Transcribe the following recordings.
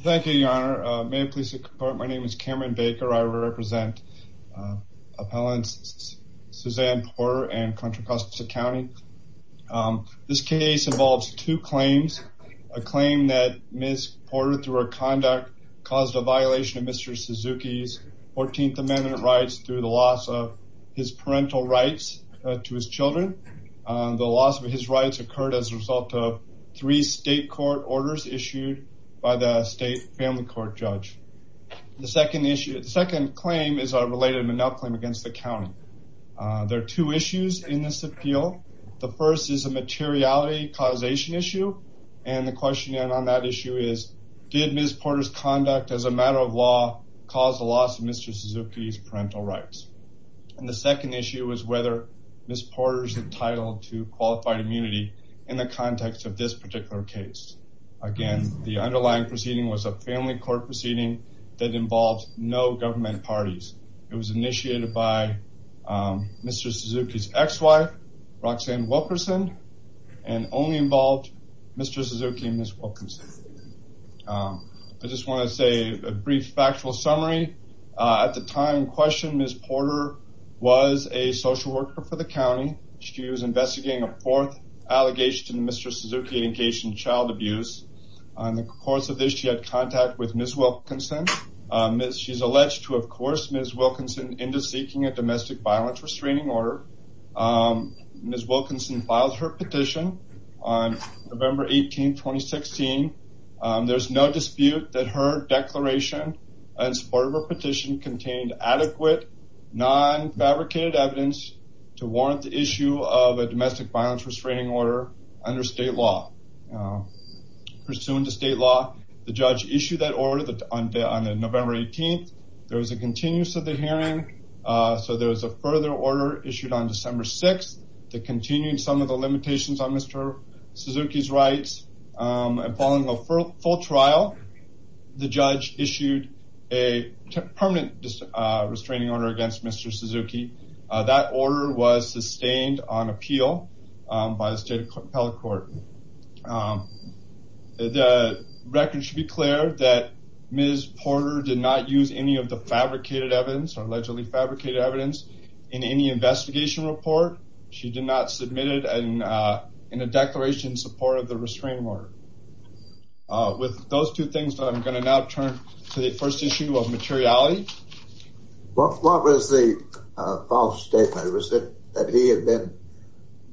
Thank you your honor. May I please report my name is Cameron Baker. I represent appellants Suzanne Porter and Contra Costa County. This case involves two claims. A claim that Ms. Porter through her conduct caused a violation of Mr. Suzuki's 14th Amendment rights through the loss of his parental rights to his children. The loss of his rights occurred as a result of three state court orders issued by the state family court judge. The second issue the second claim is a related monopoly against the county. There are two issues in this appeal. The first is a materiality causation issue and the question on that issue is did Ms. Porter's conduct as a matter of law cause the loss of Mr. Suzuki's parental rights? And the second issue is whether Ms. Porter's entitled to qualified immunity in the context of this particular case. Again the underlying proceeding was a family court proceeding that involved no government parties. It was initiated by Mr. Suzuki's ex-wife Roxanne Wilkerson and only involved Mr. Suzuki and Ms. Wilkerson. I just want to say a brief factual summary. At the time questioned Ms. Porter was a social worker for the county. She was investigating a fourth allegation Mr. Suzuki engaged in child abuse. On the course of this she had contact with Ms. Wilkerson. She's alleged to of course Ms. Wilkerson into seeking a domestic violence restraining order. Ms. Wilkerson filed her petition on November 18, 2016. There's no dispute that her declaration and support of her petition contained adequate non-fabricated evidence to warrant the issue of a domestic violence restraining order under state law. Pursuant to state law the judge issued that order on November 18th. There was a continuous of the hearing so there was a further order issued on December 6th that continued some of the limitations on Mr. Suzuki's rights and following a full trial the judge issued a permanent restraining order against Mr. Suzuki. That order was sustained on appeal by the state appellate court. The record should be clear that Ms. Porter did not use any of the fabricated evidence or allegedly fabricated evidence in any investigation report. She did not submit it and in a declaration in support of the restraining order. With those two things I'm going to now turn to the first issue of the case. So what was the false statement? Was it that he had been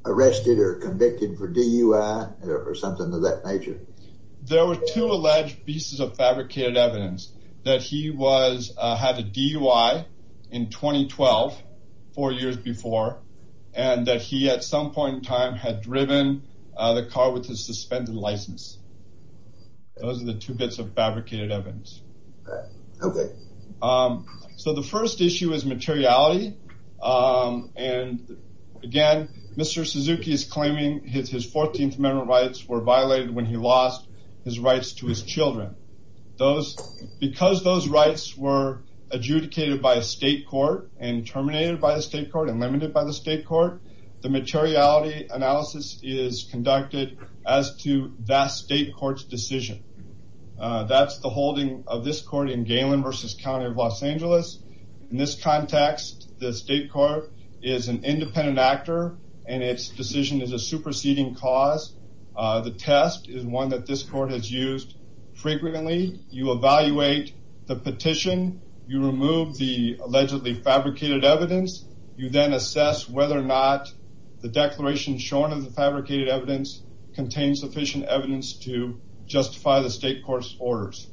arrested or convicted for DUI or something of that nature? There were two alleged pieces of fabricated evidence that he was had a DUI in 2012 four years before and that he at some point in time had driven the car with his suspended license. Those are the two bits of his materiality and again Mr. Suzuki is claiming his his 14th Amendment rights were violated when he lost his rights to his children. Those because those rights were adjudicated by a state court and terminated by a state court and limited by the state court the materiality analysis is conducted as to that state courts decision. That's the holding of this court in Galen versus County of Los Angeles. In this context the state court is an independent actor and its decision is a superseding cause. The test is one that this court has used frequently. You evaluate the petition, you remove the allegedly fabricated evidence, you then assess whether or not the declaration shown in the fabricated evidence contains sufficient evidence to justify the state court's orders.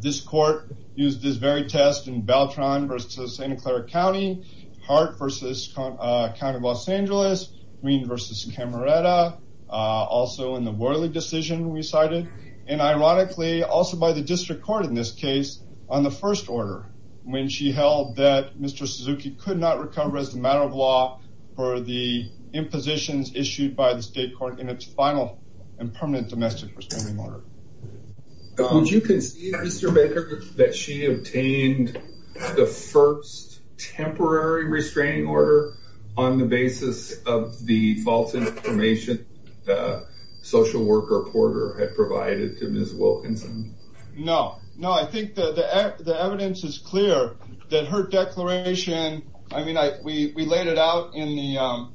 This court used this very test in Beltran versus Santa Clara County, Hart versus County of Los Angeles, Greene versus Camerota, also in the Worley decision we cited and ironically also by the district court in this case on the first order when she held that Mr. Suzuki could not recover as the matter of law for the impositions issued by the state court in its final and permanent domestic restraining order. Would you concede Mr. Baker that she obtained the first temporary restraining order on the basis of the false information the social worker reporter had provided to Ms. Wilkinson? No, no I think that the evidence is clear that her declaration I mean I we laid it out in the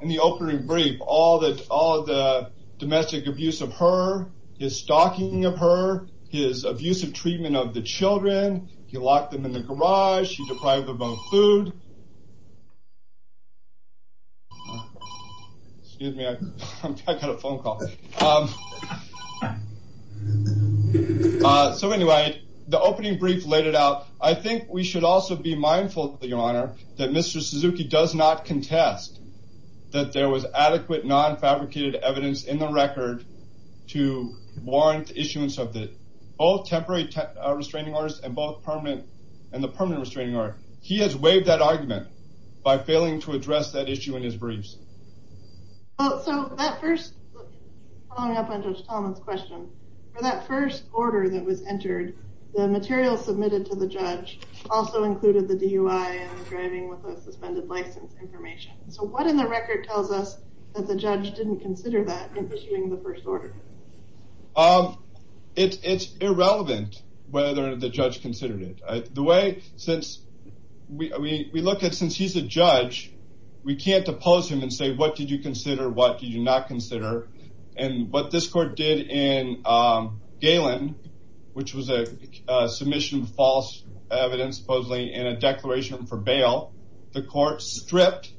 in the opening brief all that all the domestic abuse of her, his stalking of her, his abusive treatment of the children, he locked them in the garage, he deprived them of food. Excuse me, I got a phone call. So anyway the opening brief laid it out. I think we should also be mindful your honor that Mr. Suzuki does not contest that there was adequate non-fabricated evidence in the record to warrant issuance of the all temporary restraining orders and both permanent and the permanent restraining order. He has waived that argument by failing to address that issue in his briefs. So that first, following up on Judge Talman's question, for that first order that was entered the material submitted to the judge also included the DUI and driving with a suspended license information. So what in the record tells us that the judge didn't consider that in issuing the first order? It's irrelevant whether the judge considered it. The way since we look at since he's a judge we can't oppose him and say what did you consider what did you not consider and what this court did in Galen which was a submission of false evidence supposedly in a declaration for bail. The court stripped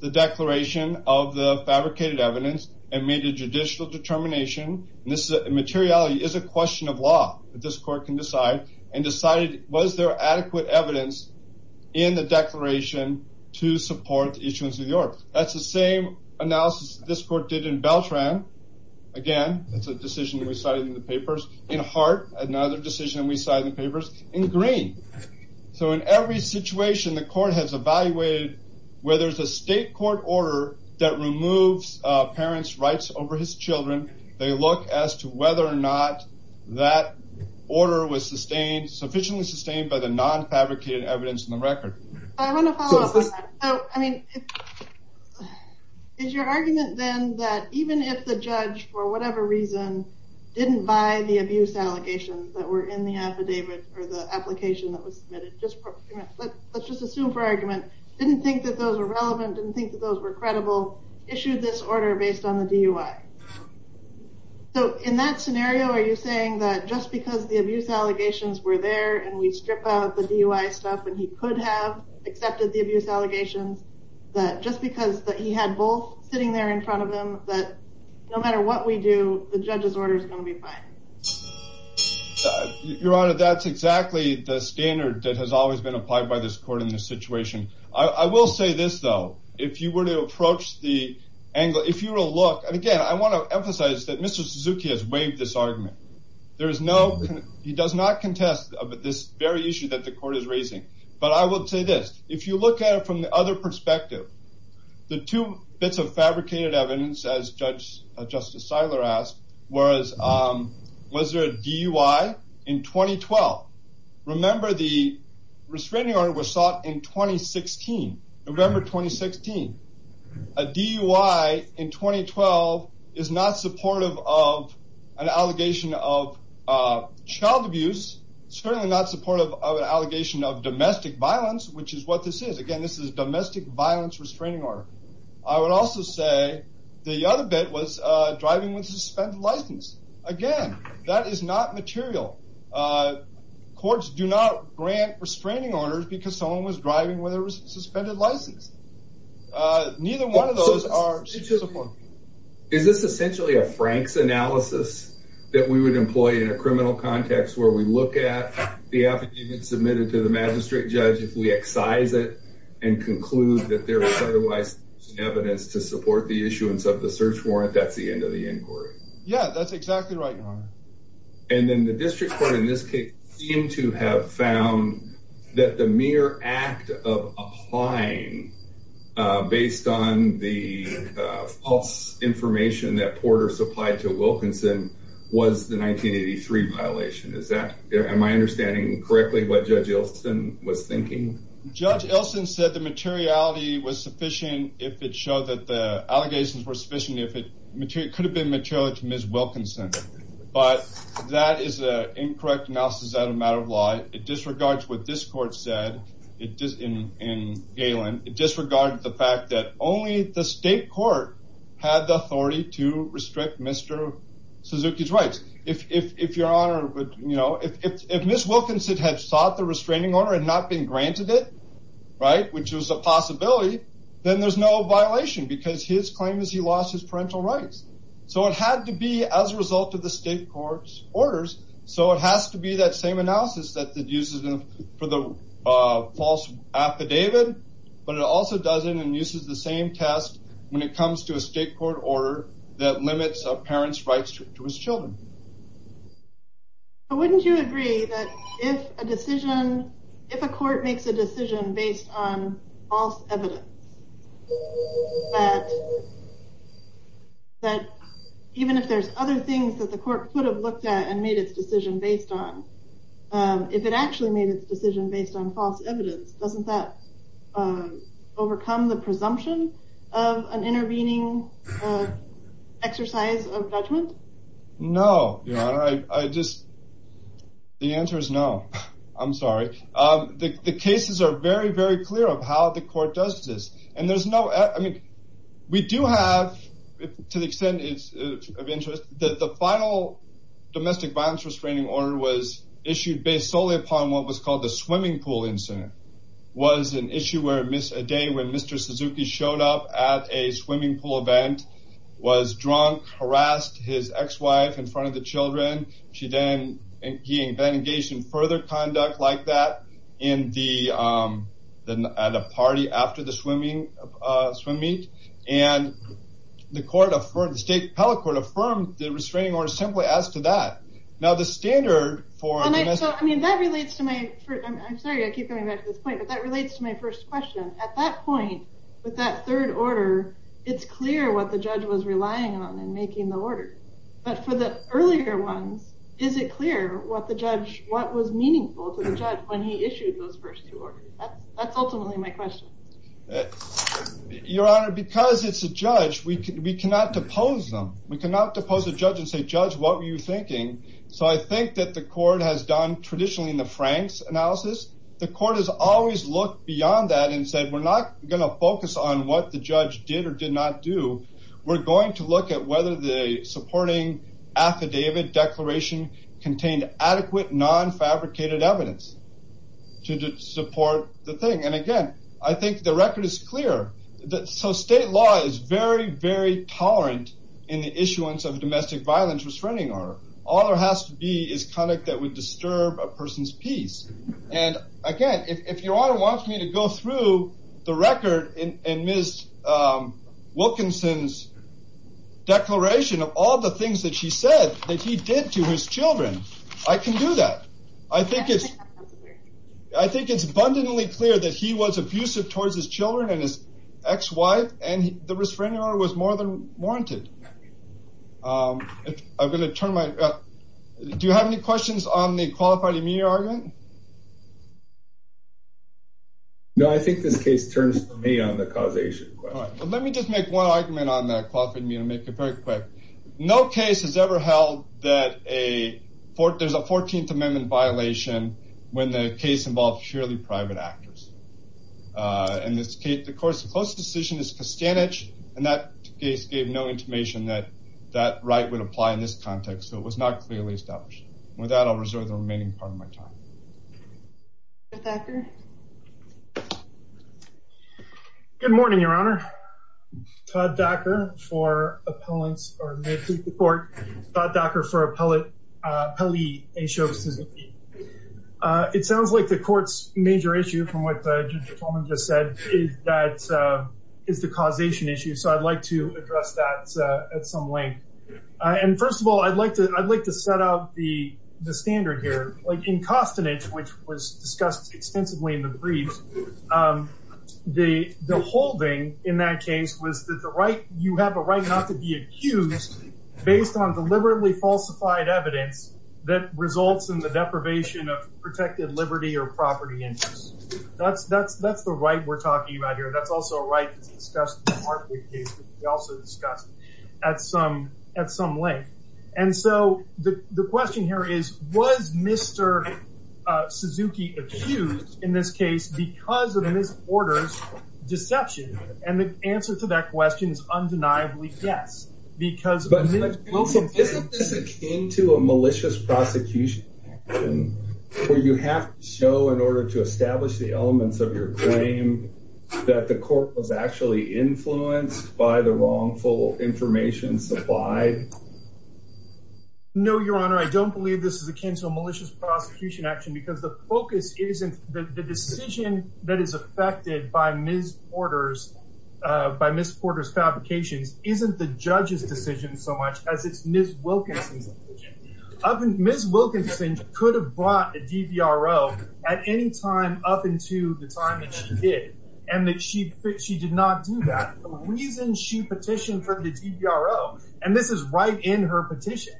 the declaration of the fabricated evidence and made a judicial determination and this materiality is a question of law that this court can decide and decided was there adequate evidence in the declaration to support the issuance of the order. That's the same analysis this court did in Beltran. Again it's a decision we cited in the in every situation the court has evaluated where there's a state court order that removes parents rights over his children they look as to whether or not that order was sustained sufficiently sustained by the non fabricated evidence in the record. I mean is your argument then that even if the judge for whatever reason didn't buy the abuse allegations that were in the application that was submitted just let's just assume for argument didn't think that those are relevant and think that those were credible issued this order based on the DUI. So in that scenario are you saying that just because the abuse allegations were there and we strip out the DUI stuff and he could have accepted the abuse allegations that just because that he had both sitting there in front of him that no matter what we do the judge's order is going to be fine? Your honor that's exactly the standard that has always been applied by this court in this situation. I will say this though if you were to approach the angle if you will look and again I want to emphasize that Mr. Suzuki has waived this argument. There is no he does not contest this very issue that the court is raising but I would say this if you look at it from the other perspective the two bits of fabricated evidence as judge Justice Siler asked whereas was there a DUI in 2012? Remember the restraining order was sought in 2016. Remember 2016. A DUI in 2012 is not supportive of an allegation of child abuse certainly not supportive of an allegation of domestic violence which is what this is. Again this is domestic violence restraining order. I suspended license. Again that is not material. Courts do not grant restraining orders because someone was driving with a suspended license. Neither one of those are. Is this essentially a Frank's analysis that we would employ in a criminal context where we look at the affidavit submitted to the magistrate judge if we excise it and conclude that there was otherwise evidence to support the issuance of the search warrant that's the end of the inquiry? Yeah that's exactly right your honor. And then the district court in this case seem to have found that the mere act of applying based on the false information that Porter supplied to Wilkinson was the 1983 violation. Is that am I understanding correctly what judge Ilsen was thinking? Judge Ilsen said the allegations were sufficient if it could have been material to Ms. Wilkinson but that is an incorrect analysis that a matter of law. It disregards what this court said in Galen. It disregarded the fact that only the state court had the authority to restrict Mr. Suzuki's rights. If your honor would you know if Ms. Wilkinson had sought the restraining order and not been granted it right which was a possibility then there's no violation because his claim is he lost his parental rights. So it had to be as a result of the state court's orders so it has to be that same analysis that uses them for the false affidavit but it also doesn't and uses the same test when it comes to a state court order that limits a parent's rights to his children. But wouldn't you agree that if a decision if a court makes a decision based on false evidence that even if there's other things that the court could have looked at and made its decision based on if it actually made its decision based on false evidence doesn't that overcome the presumption of an intervening exercise of judgment? No your honor I just the answer is no I'm sorry the cases are very very clear of how the court does this and there's no I mean we do have to the extent of interest that the final domestic violence restraining order was issued based solely upon what was called the swimming pool incident was an issue where a day when Mr. Suzuki showed up at a swimming pool event was drunk harassed his ex-wife in front of the children she then engaged in further conduct like that in the at a party after the swimming meet and the court of state appellate court affirmed the restraining order simply as to that now the standard for I mean that relates to my first question at that point with that third order it's clear what the judge was relying on and making the judge when he issued those first two orders. That's ultimately my question. Your honor because it's a judge we cannot depose them we cannot depose a judge and say judge what were you thinking so I think that the court has done traditionally in the Franks analysis the court has always looked beyond that and said we're not going to focus on what the judge did or did not do we're going to look at whether the supporting affidavit declaration contained adequate non-fabricated evidence to support the thing and again I think the record is clear that so state law is very very tolerant in the issuance of domestic violence restraining order all there has to be is conduct that would disturb a person's peace and again if your honor wants me to go through the record in Ms. Wilkinson's declaration of all the that she said that he did to his children I can do that I think it's I think it's abundantly clear that he was abusive towards his children and his ex-wife and the restraining order was more than warranted. I'm going to turn my do you have any questions on the qualified immediate argument? No I think this case turns to me on the causation. Let me just make one argument on that no case has ever held that a fort there's a 14th amendment violation when the case involves purely private actors and this case of course the closest decision is Castanets and that case gave no information that that right would apply in this context so it was not clearly established. With that I'll It sounds like the courts major issue from what Judge Coleman just said is that is the causation issue so I'd like to address that at some length and first of all I'd like to I'd like to set out the the standard here like in Castanets which was discussed extensively in the brief the the holding in that case was that the right you have a right not to be accused based on deliberately falsified evidence that results in the deprivation of protected liberty or property interests that's that's that's the right we're talking about here that's also a right that's discussed in the Hartford case that we also discussed at some at some length and so the the question here is was Mr. Suzuki accused in this case because of his orders deception and the answer to that question is undeniably yes because but isn't this akin to a malicious prosecution where you have to show in order to establish the elements of your claim that the court was actually influenced by the wrongful information supplied? No your honor I don't believe this is akin to a malicious prosecution action because the focus isn't the decision that is affected by Ms. Porter's by Ms. Porter's fabrications isn't the judge's decision so much as it's Ms. Wilkinson's decision. Ms. Wilkinson could have brought a DVRO at any time up into the time that she did and that she she did not do that the reason she petitioned for the DVRO and this is right in her petition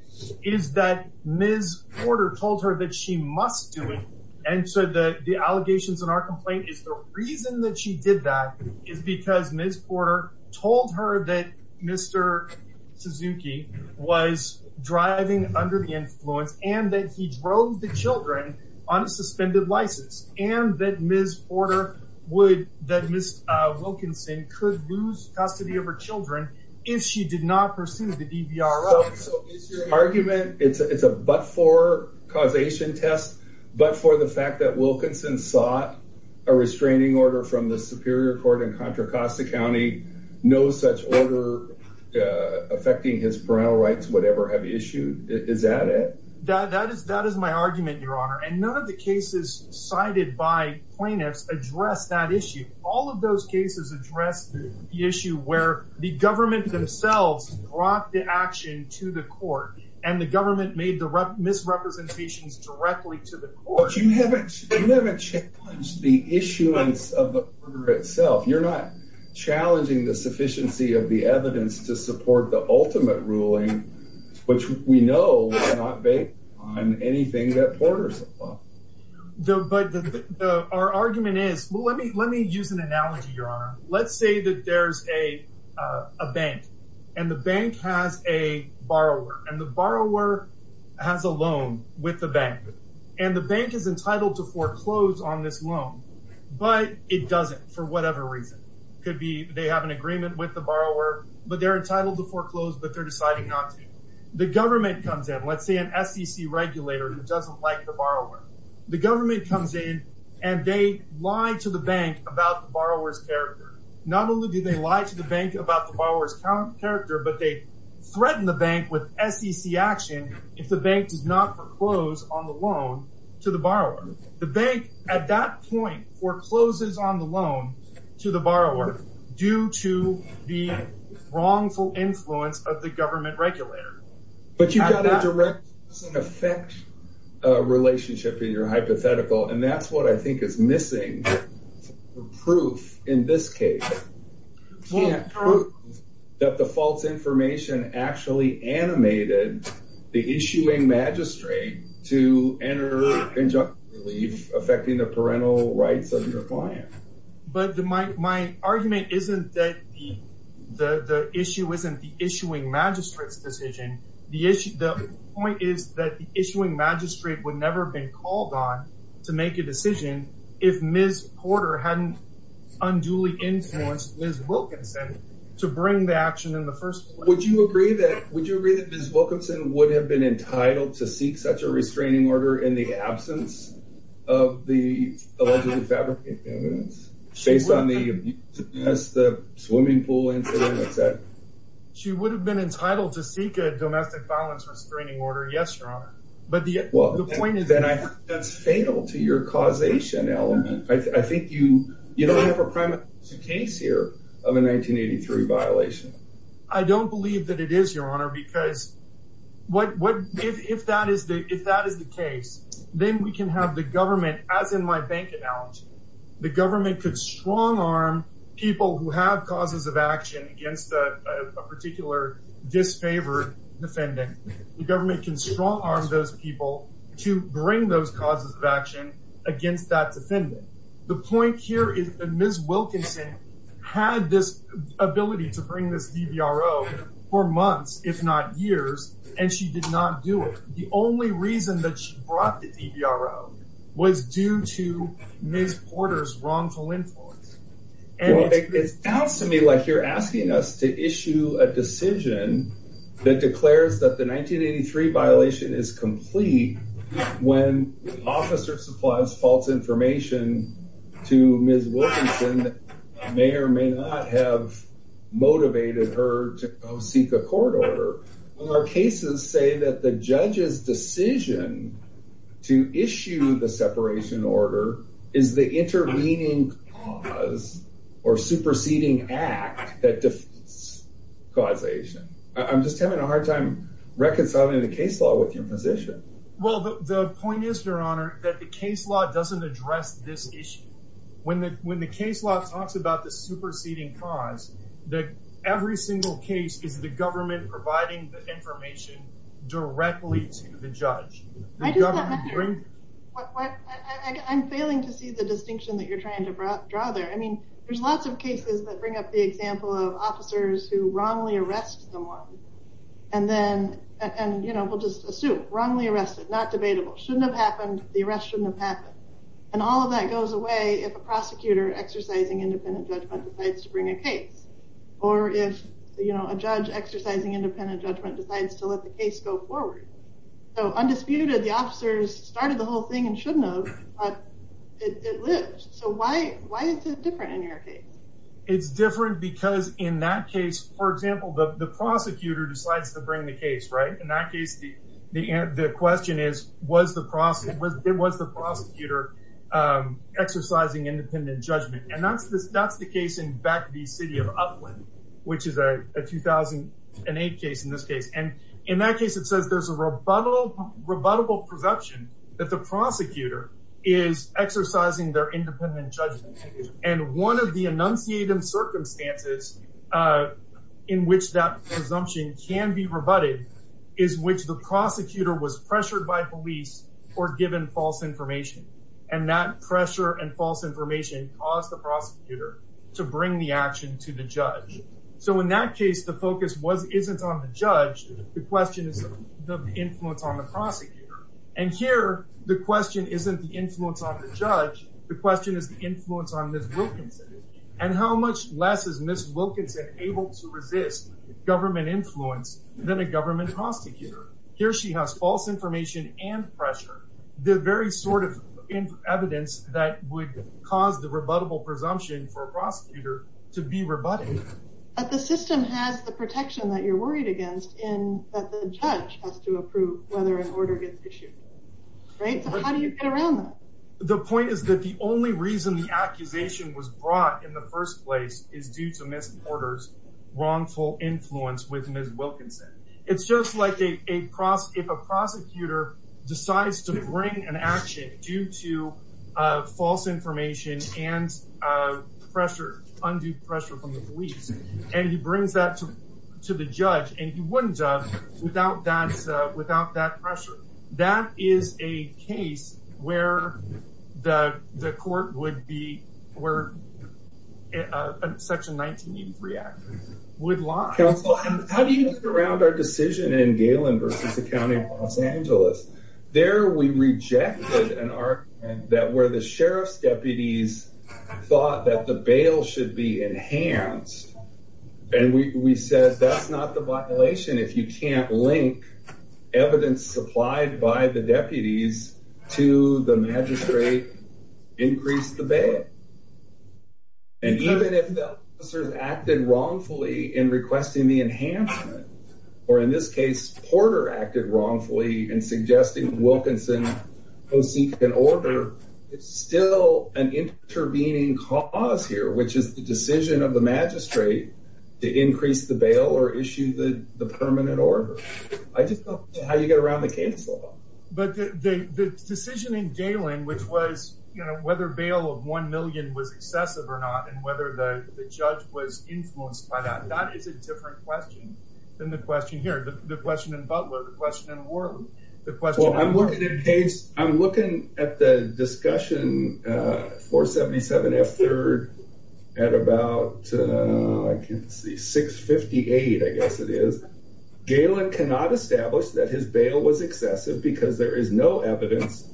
is that Ms. Porter told her that she must do it and so the the allegations in our complaint is the reason that she did that is because Ms. Porter told her that Mr. Suzuki was driving under the influence and that he drove the children on a suspended license and that Ms. Porter would that Ms. Wilkinson could lose custody of her children if she did not pursue the DVRO. So is your argument it's it's a but for causation test but for the fact that Wilkinson sought a restraining order from the Superior Court in Contra Costa County no such order affecting his parental rights whatever have issued is that it? That is that is my argument your honor and none of the cases cited by plaintiffs address that issue all of those cases address the issue where the government themselves brought the action to the court and the government made the misrepresentations directly to the court. But you haven't challenged the issuance of the order itself you're not challenging the sufficiency of the evidence to support the ultimate ruling which we know is not based on anything that Porter said. But our argument is well let me let me use an analogy your honor let's say that there's a bank and the loan with the bank and the bank is entitled to foreclose on this loan but it doesn't for whatever reason could be they have an agreement with the borrower but they're entitled to foreclose but they're deciding not to. The government comes in let's say an SEC regulator who doesn't like the borrower the government comes in and they lie to the bank about the borrower's character not only do they lie to the bank about the borrower's character but they threaten the bank with SEC action if the bank does not foreclose on the loan to the borrower. The bank at that point forecloses on the loan to the borrower due to the wrongful influence of the government regulator. But you got a direct effect relationship in your hypothetical and that's what I think is animated the issuing magistrate to enter injunctive relief affecting the parental rights of your client. But my argument isn't that the issue isn't the issuing magistrates decision the issue the point is that the issuing magistrate would never been called on to make a decision if Ms. Porter hadn't unduly influenced Ms. Wilkinson to bring the action in the first place. Would you agree that Ms. Wilkinson would have been entitled to seek such a restraining order in the absence of the allegedly fabricated evidence? Based on the abuse against the swimming pool incident? She would have been entitled to seek a domestic violence restraining order yes your honor but the point is that I that's fatal to your causation element I think you you don't have a premise to case here of a 1983 violation. I don't believe that it is your honor because what what if that is the if that is the case then we can have the government as in my bank analogy the government could strong-arm people who have causes of action against a particular disfavored defendant the government can strong-arm those people to bring those causes of offending the point here is that Ms. Wilkinson had this ability to bring this DVRO for months if not years and she did not do it the only reason that she brought the DVRO was due to Ms. Porter's wrongful influence. It sounds to me like you're asking us to issue a decision that declares that the 1983 violation is to Ms. Wilkinson may or may not have motivated her to seek a court order. Our cases say that the judge's decision to issue the separation order is the intervening cause or superseding act that defeats causation. I'm just having a hard time reconciling the case law with your position. Well the point is your this issue when the when the case law talks about the superseding cause that every single case is the government providing the information directly to the judge. I'm failing to see the distinction that you're trying to draw there I mean there's lots of cases that bring up the example of officers who wrongly arrest someone and then and you know we'll just assume wrongly arrested not debatable shouldn't have happened the arrest shouldn't have happened and all of that goes away if a prosecutor exercising independent judgment decides to bring a case or if you know a judge exercising independent judgment decides to let the case go forward. So undisputed the officers started the whole thing and shouldn't have but it lives so why why is it different in your case? It's different because in that case for example the prosecutor decides to question is was the process was there was the prosecutor exercising independent judgment and that's this that's the case in back the city of Upland which is a 2008 case in this case and in that case it says there's a rebuttal rebuttable presumption that the prosecutor is exercising their independent judgment and one of the enunciated circumstances in which that presumption can be rebutted is which the prosecutor was pressured by police or given false information and that pressure and false information caused the prosecutor to bring the action to the judge. So in that case the focus was isn't on the judge the question is the influence on the prosecutor and here the question isn't the influence on the judge the question is the influence on this Wilkinson able to resist government influence than a government prosecutor. Here she has false information and pressure the very sort of evidence that would cause the rebuttable presumption for a prosecutor to be rebutted. But the system has the protection that you're worried against in that the judge has to approve whether an order gets issued. Right? So how do you get around that? The point is that the only reason the accusation was brought in the first place is due to Ms. Porter's wrongful influence with Ms. Wilkinson. It's just like a prosecutor if a prosecutor decides to bring an action due to false information and pressure undue pressure from the police and he brings that to to the judge and he wouldn't have without that without that pressure. That is a case where the court would be where Section 1983 Act would lie. Counsel, how do you get around our decision in Galen versus the County of Los Angeles? There we rejected an argument that where the sheriff's deputies thought that the bail should be enhanced and we said that's not the violation if you can't link evidence supplied by the deputies to the magistrate increase the bail. And even if officers acted wrongfully in requesting the enhancement or in this case Porter acted wrongfully in suggesting Wilkinson go seek an order, it's still an intervening cause here which is the permanent order. I just don't know how you get around the case. But the decision in Galen which was you know whether bail of 1 million was excessive or not and whether the judge was influenced by that, that is a different question than the question here. The question in Butler, the question in Worley. I'm looking at the discussion 477 F3rd at about I can see 658 I guess it is. Galen cannot establish that his bail was excessive because there is no evidence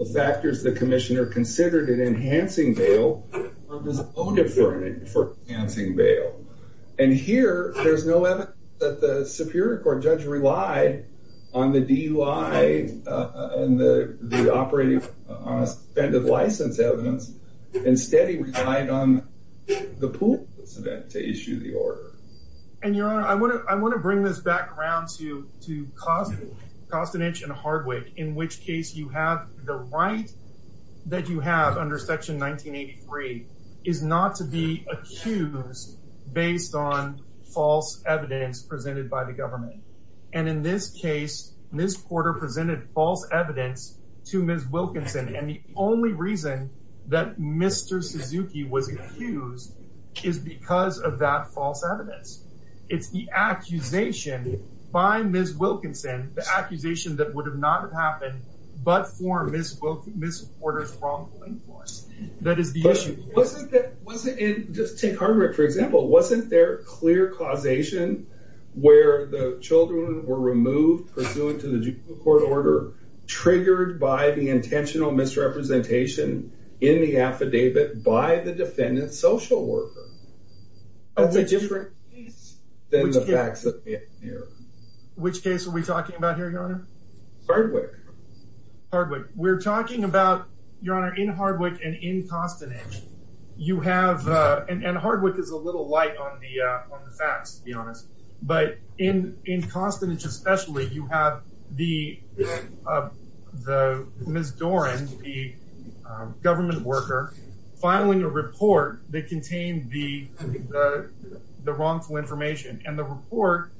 of factors the Commissioner considered in enhancing bail for enhancing bail. And here there's no evidence that the Superior Court judge relied on the DUI and the operating on a suspended license evidence. Instead he relied on the pool incident to issue the order. And your honor I want to I want to bring this back around to to Costanich and Hardwick in which case you have the right that you have under section 1983 is not to be accused based on false evidence presented by the government. And in this case Ms. Porter presented false evidence to Ms. Wilkinson and the only reason that Mr. Suzuki was accused is because of that false evidence. It's the accusation by Ms. Wilkinson, the accusation that would have not have happened but for Ms. Porter's wrongful influence. That is the issue. Just take Hardwick for example. Wasn't there clear causation where the children were removed pursuant to the triggered by the intentional misrepresentation in the affidavit by the defendant's social worker? That's a different case than the facts that we have here. Which case are we talking about here your honor? Hardwick. Hardwick. We're talking about your honor in Hardwick and in Costanich you have and Hardwick is a little light on the facts to be honest but in in Costanich especially you have the the Ms. Doran the government worker filing a report that contained the the wrongful information and the report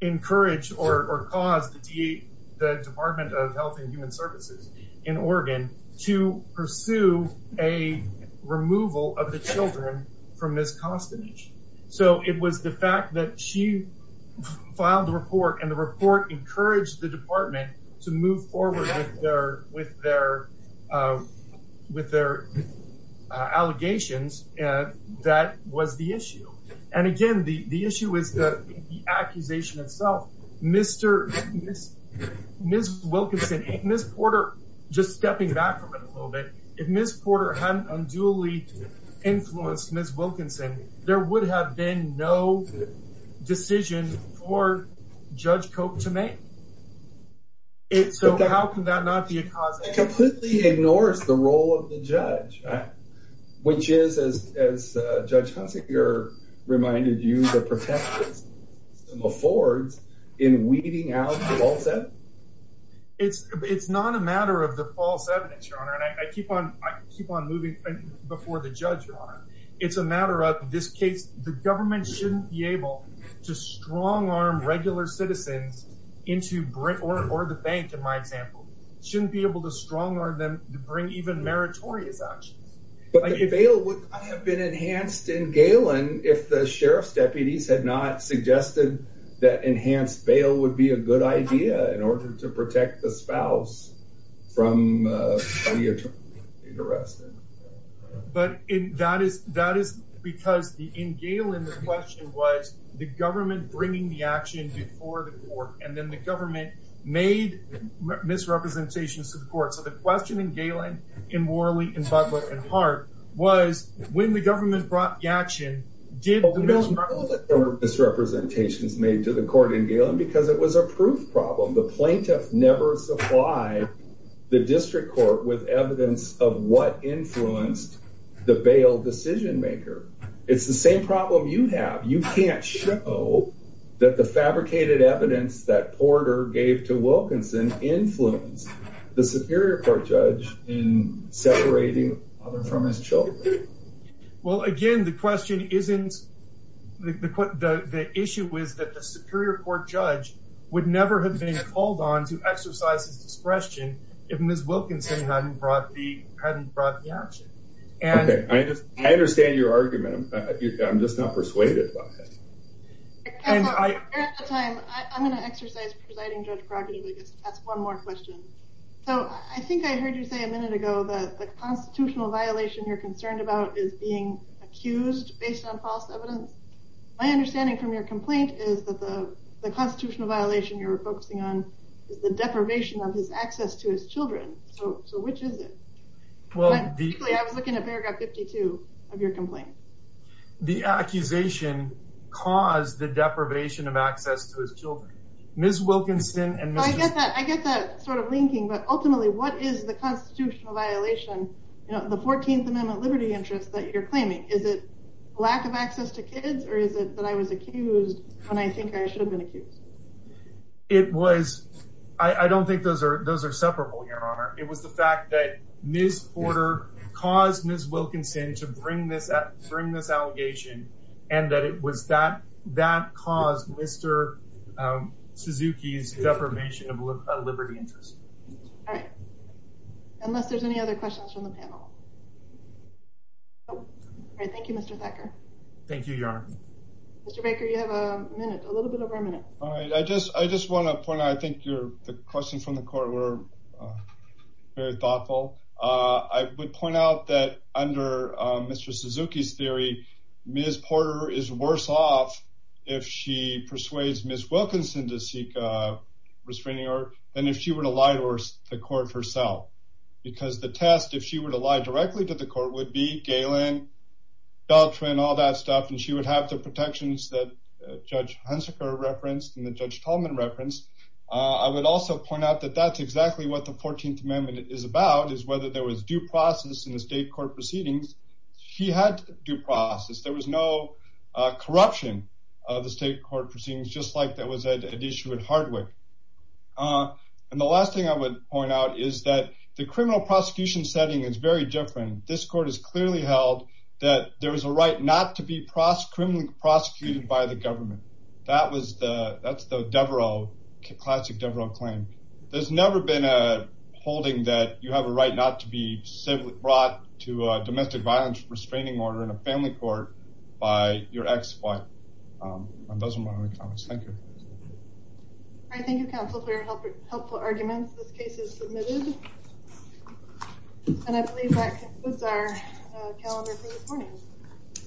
encouraged or caused the Department of Health and Human Services in Oregon to pursue a removal of the children from Ms. Costanich. So it was the fact that she filed the report and the report encouraged the department to move forward with their with their with their allegations and that was the issue and again the the issue is the accusation itself. Ms. Wilkinson, Ms. Porter, just stepping back from it a little bit, if Ms. Porter hadn't unduly influenced Ms. Wilkinson there would have been no decision for Judge Cope to make. So how can that not be a cause? It completely ignores the role of the judge which is as Judge Consigliere reminded you the protective system affords in the matter of the false evidence your honor and I keep on I keep on moving before the judge your honor it's a matter of this case the government shouldn't be able to strong-arm regular citizens into Brick or the bank in my example shouldn't be able to strong-arm them to bring even meritorious action. But the bail would have been enhanced in Galen if the sheriff's deputies had not suggested that enhanced bail would be a good idea in order to protect the from the arrest. But that is that is because the in Galen the question was the government bringing the action before the court and then the government made misrepresentations to the court so the question in Galen, in Worley, in Butler, and Hart was when the government brought the action did the misrepresentations made to the court in Galen because it was a proof problem the plaintiff never supplied the district court with evidence of what influenced the bail decision-maker. It's the same problem you have you can't show that the fabricated evidence that Porter gave to Wilkinson influenced the Superior Court judge in separating his father from his children. Well again the question isn't the issue is that the Superior Court judge would never have been called on to exercise his discretion if Ms. Wilkinson hadn't brought the action. Okay I understand your argument I'm just not persuaded by it. I'm going to exercise presiding judge prerogative to ask one more question. So I think I heard you say a minute ago that the constitutional violation you're concerned about is being accused based on false evidence. My understanding from your complaint is that the deprivation of his access to his children. So which is it? I was looking at paragraph 52 of your complaint. The accusation caused the deprivation of access to his children. Ms. Wilkinson and I get that I get that sort of linking but ultimately what is the constitutional violation you know the 14th Amendment liberty interest that you're claiming is it lack of access to kids or is it that I was accused when I think I should have been accused. It was I don't think those are those are separable your honor it was the fact that Ms. Porter caused Ms. Wilkinson to bring this up during this allegation and that it was that that caused Mr. Suzuki's deprivation of liberty interest. All right unless there's any other questions from the panel. Thank you Mr. Thacker. Thank you your honor. Mr. Baker you have a minute a I just I just want to point out I think you're the question from the court were very thoughtful. I would point out that under Mr. Suzuki's theory Ms. Porter is worse off if she persuades Ms. Wilkinson to seek restraining order than if she were to lie to the court herself. Because the test if she were to lie directly to the court would be Galen, Beltran, all that stuff and she would have the protections that Judge Hunsaker referenced and the Judge Tolman referenced. I would also point out that that's exactly what the 14th Amendment is about is whether there was due process in the state court proceedings. She had due process there was no corruption of the state court proceedings just like that was an issue at Hardwick. And the last thing I would point out is that the criminal prosecution setting is very different. This court is clearly held that there is a right not to be criminally prosecuted by the government. That was the that's the Devereux classic Devereux claim. There's never been a holding that you have a right not to be brought to domestic violence restraining order in a family court by your ex-wife. And those are my only comments. Thank you. I thank you counsel for your helpful arguments. This case is submitted. And I believe that concludes our calendar for this morning.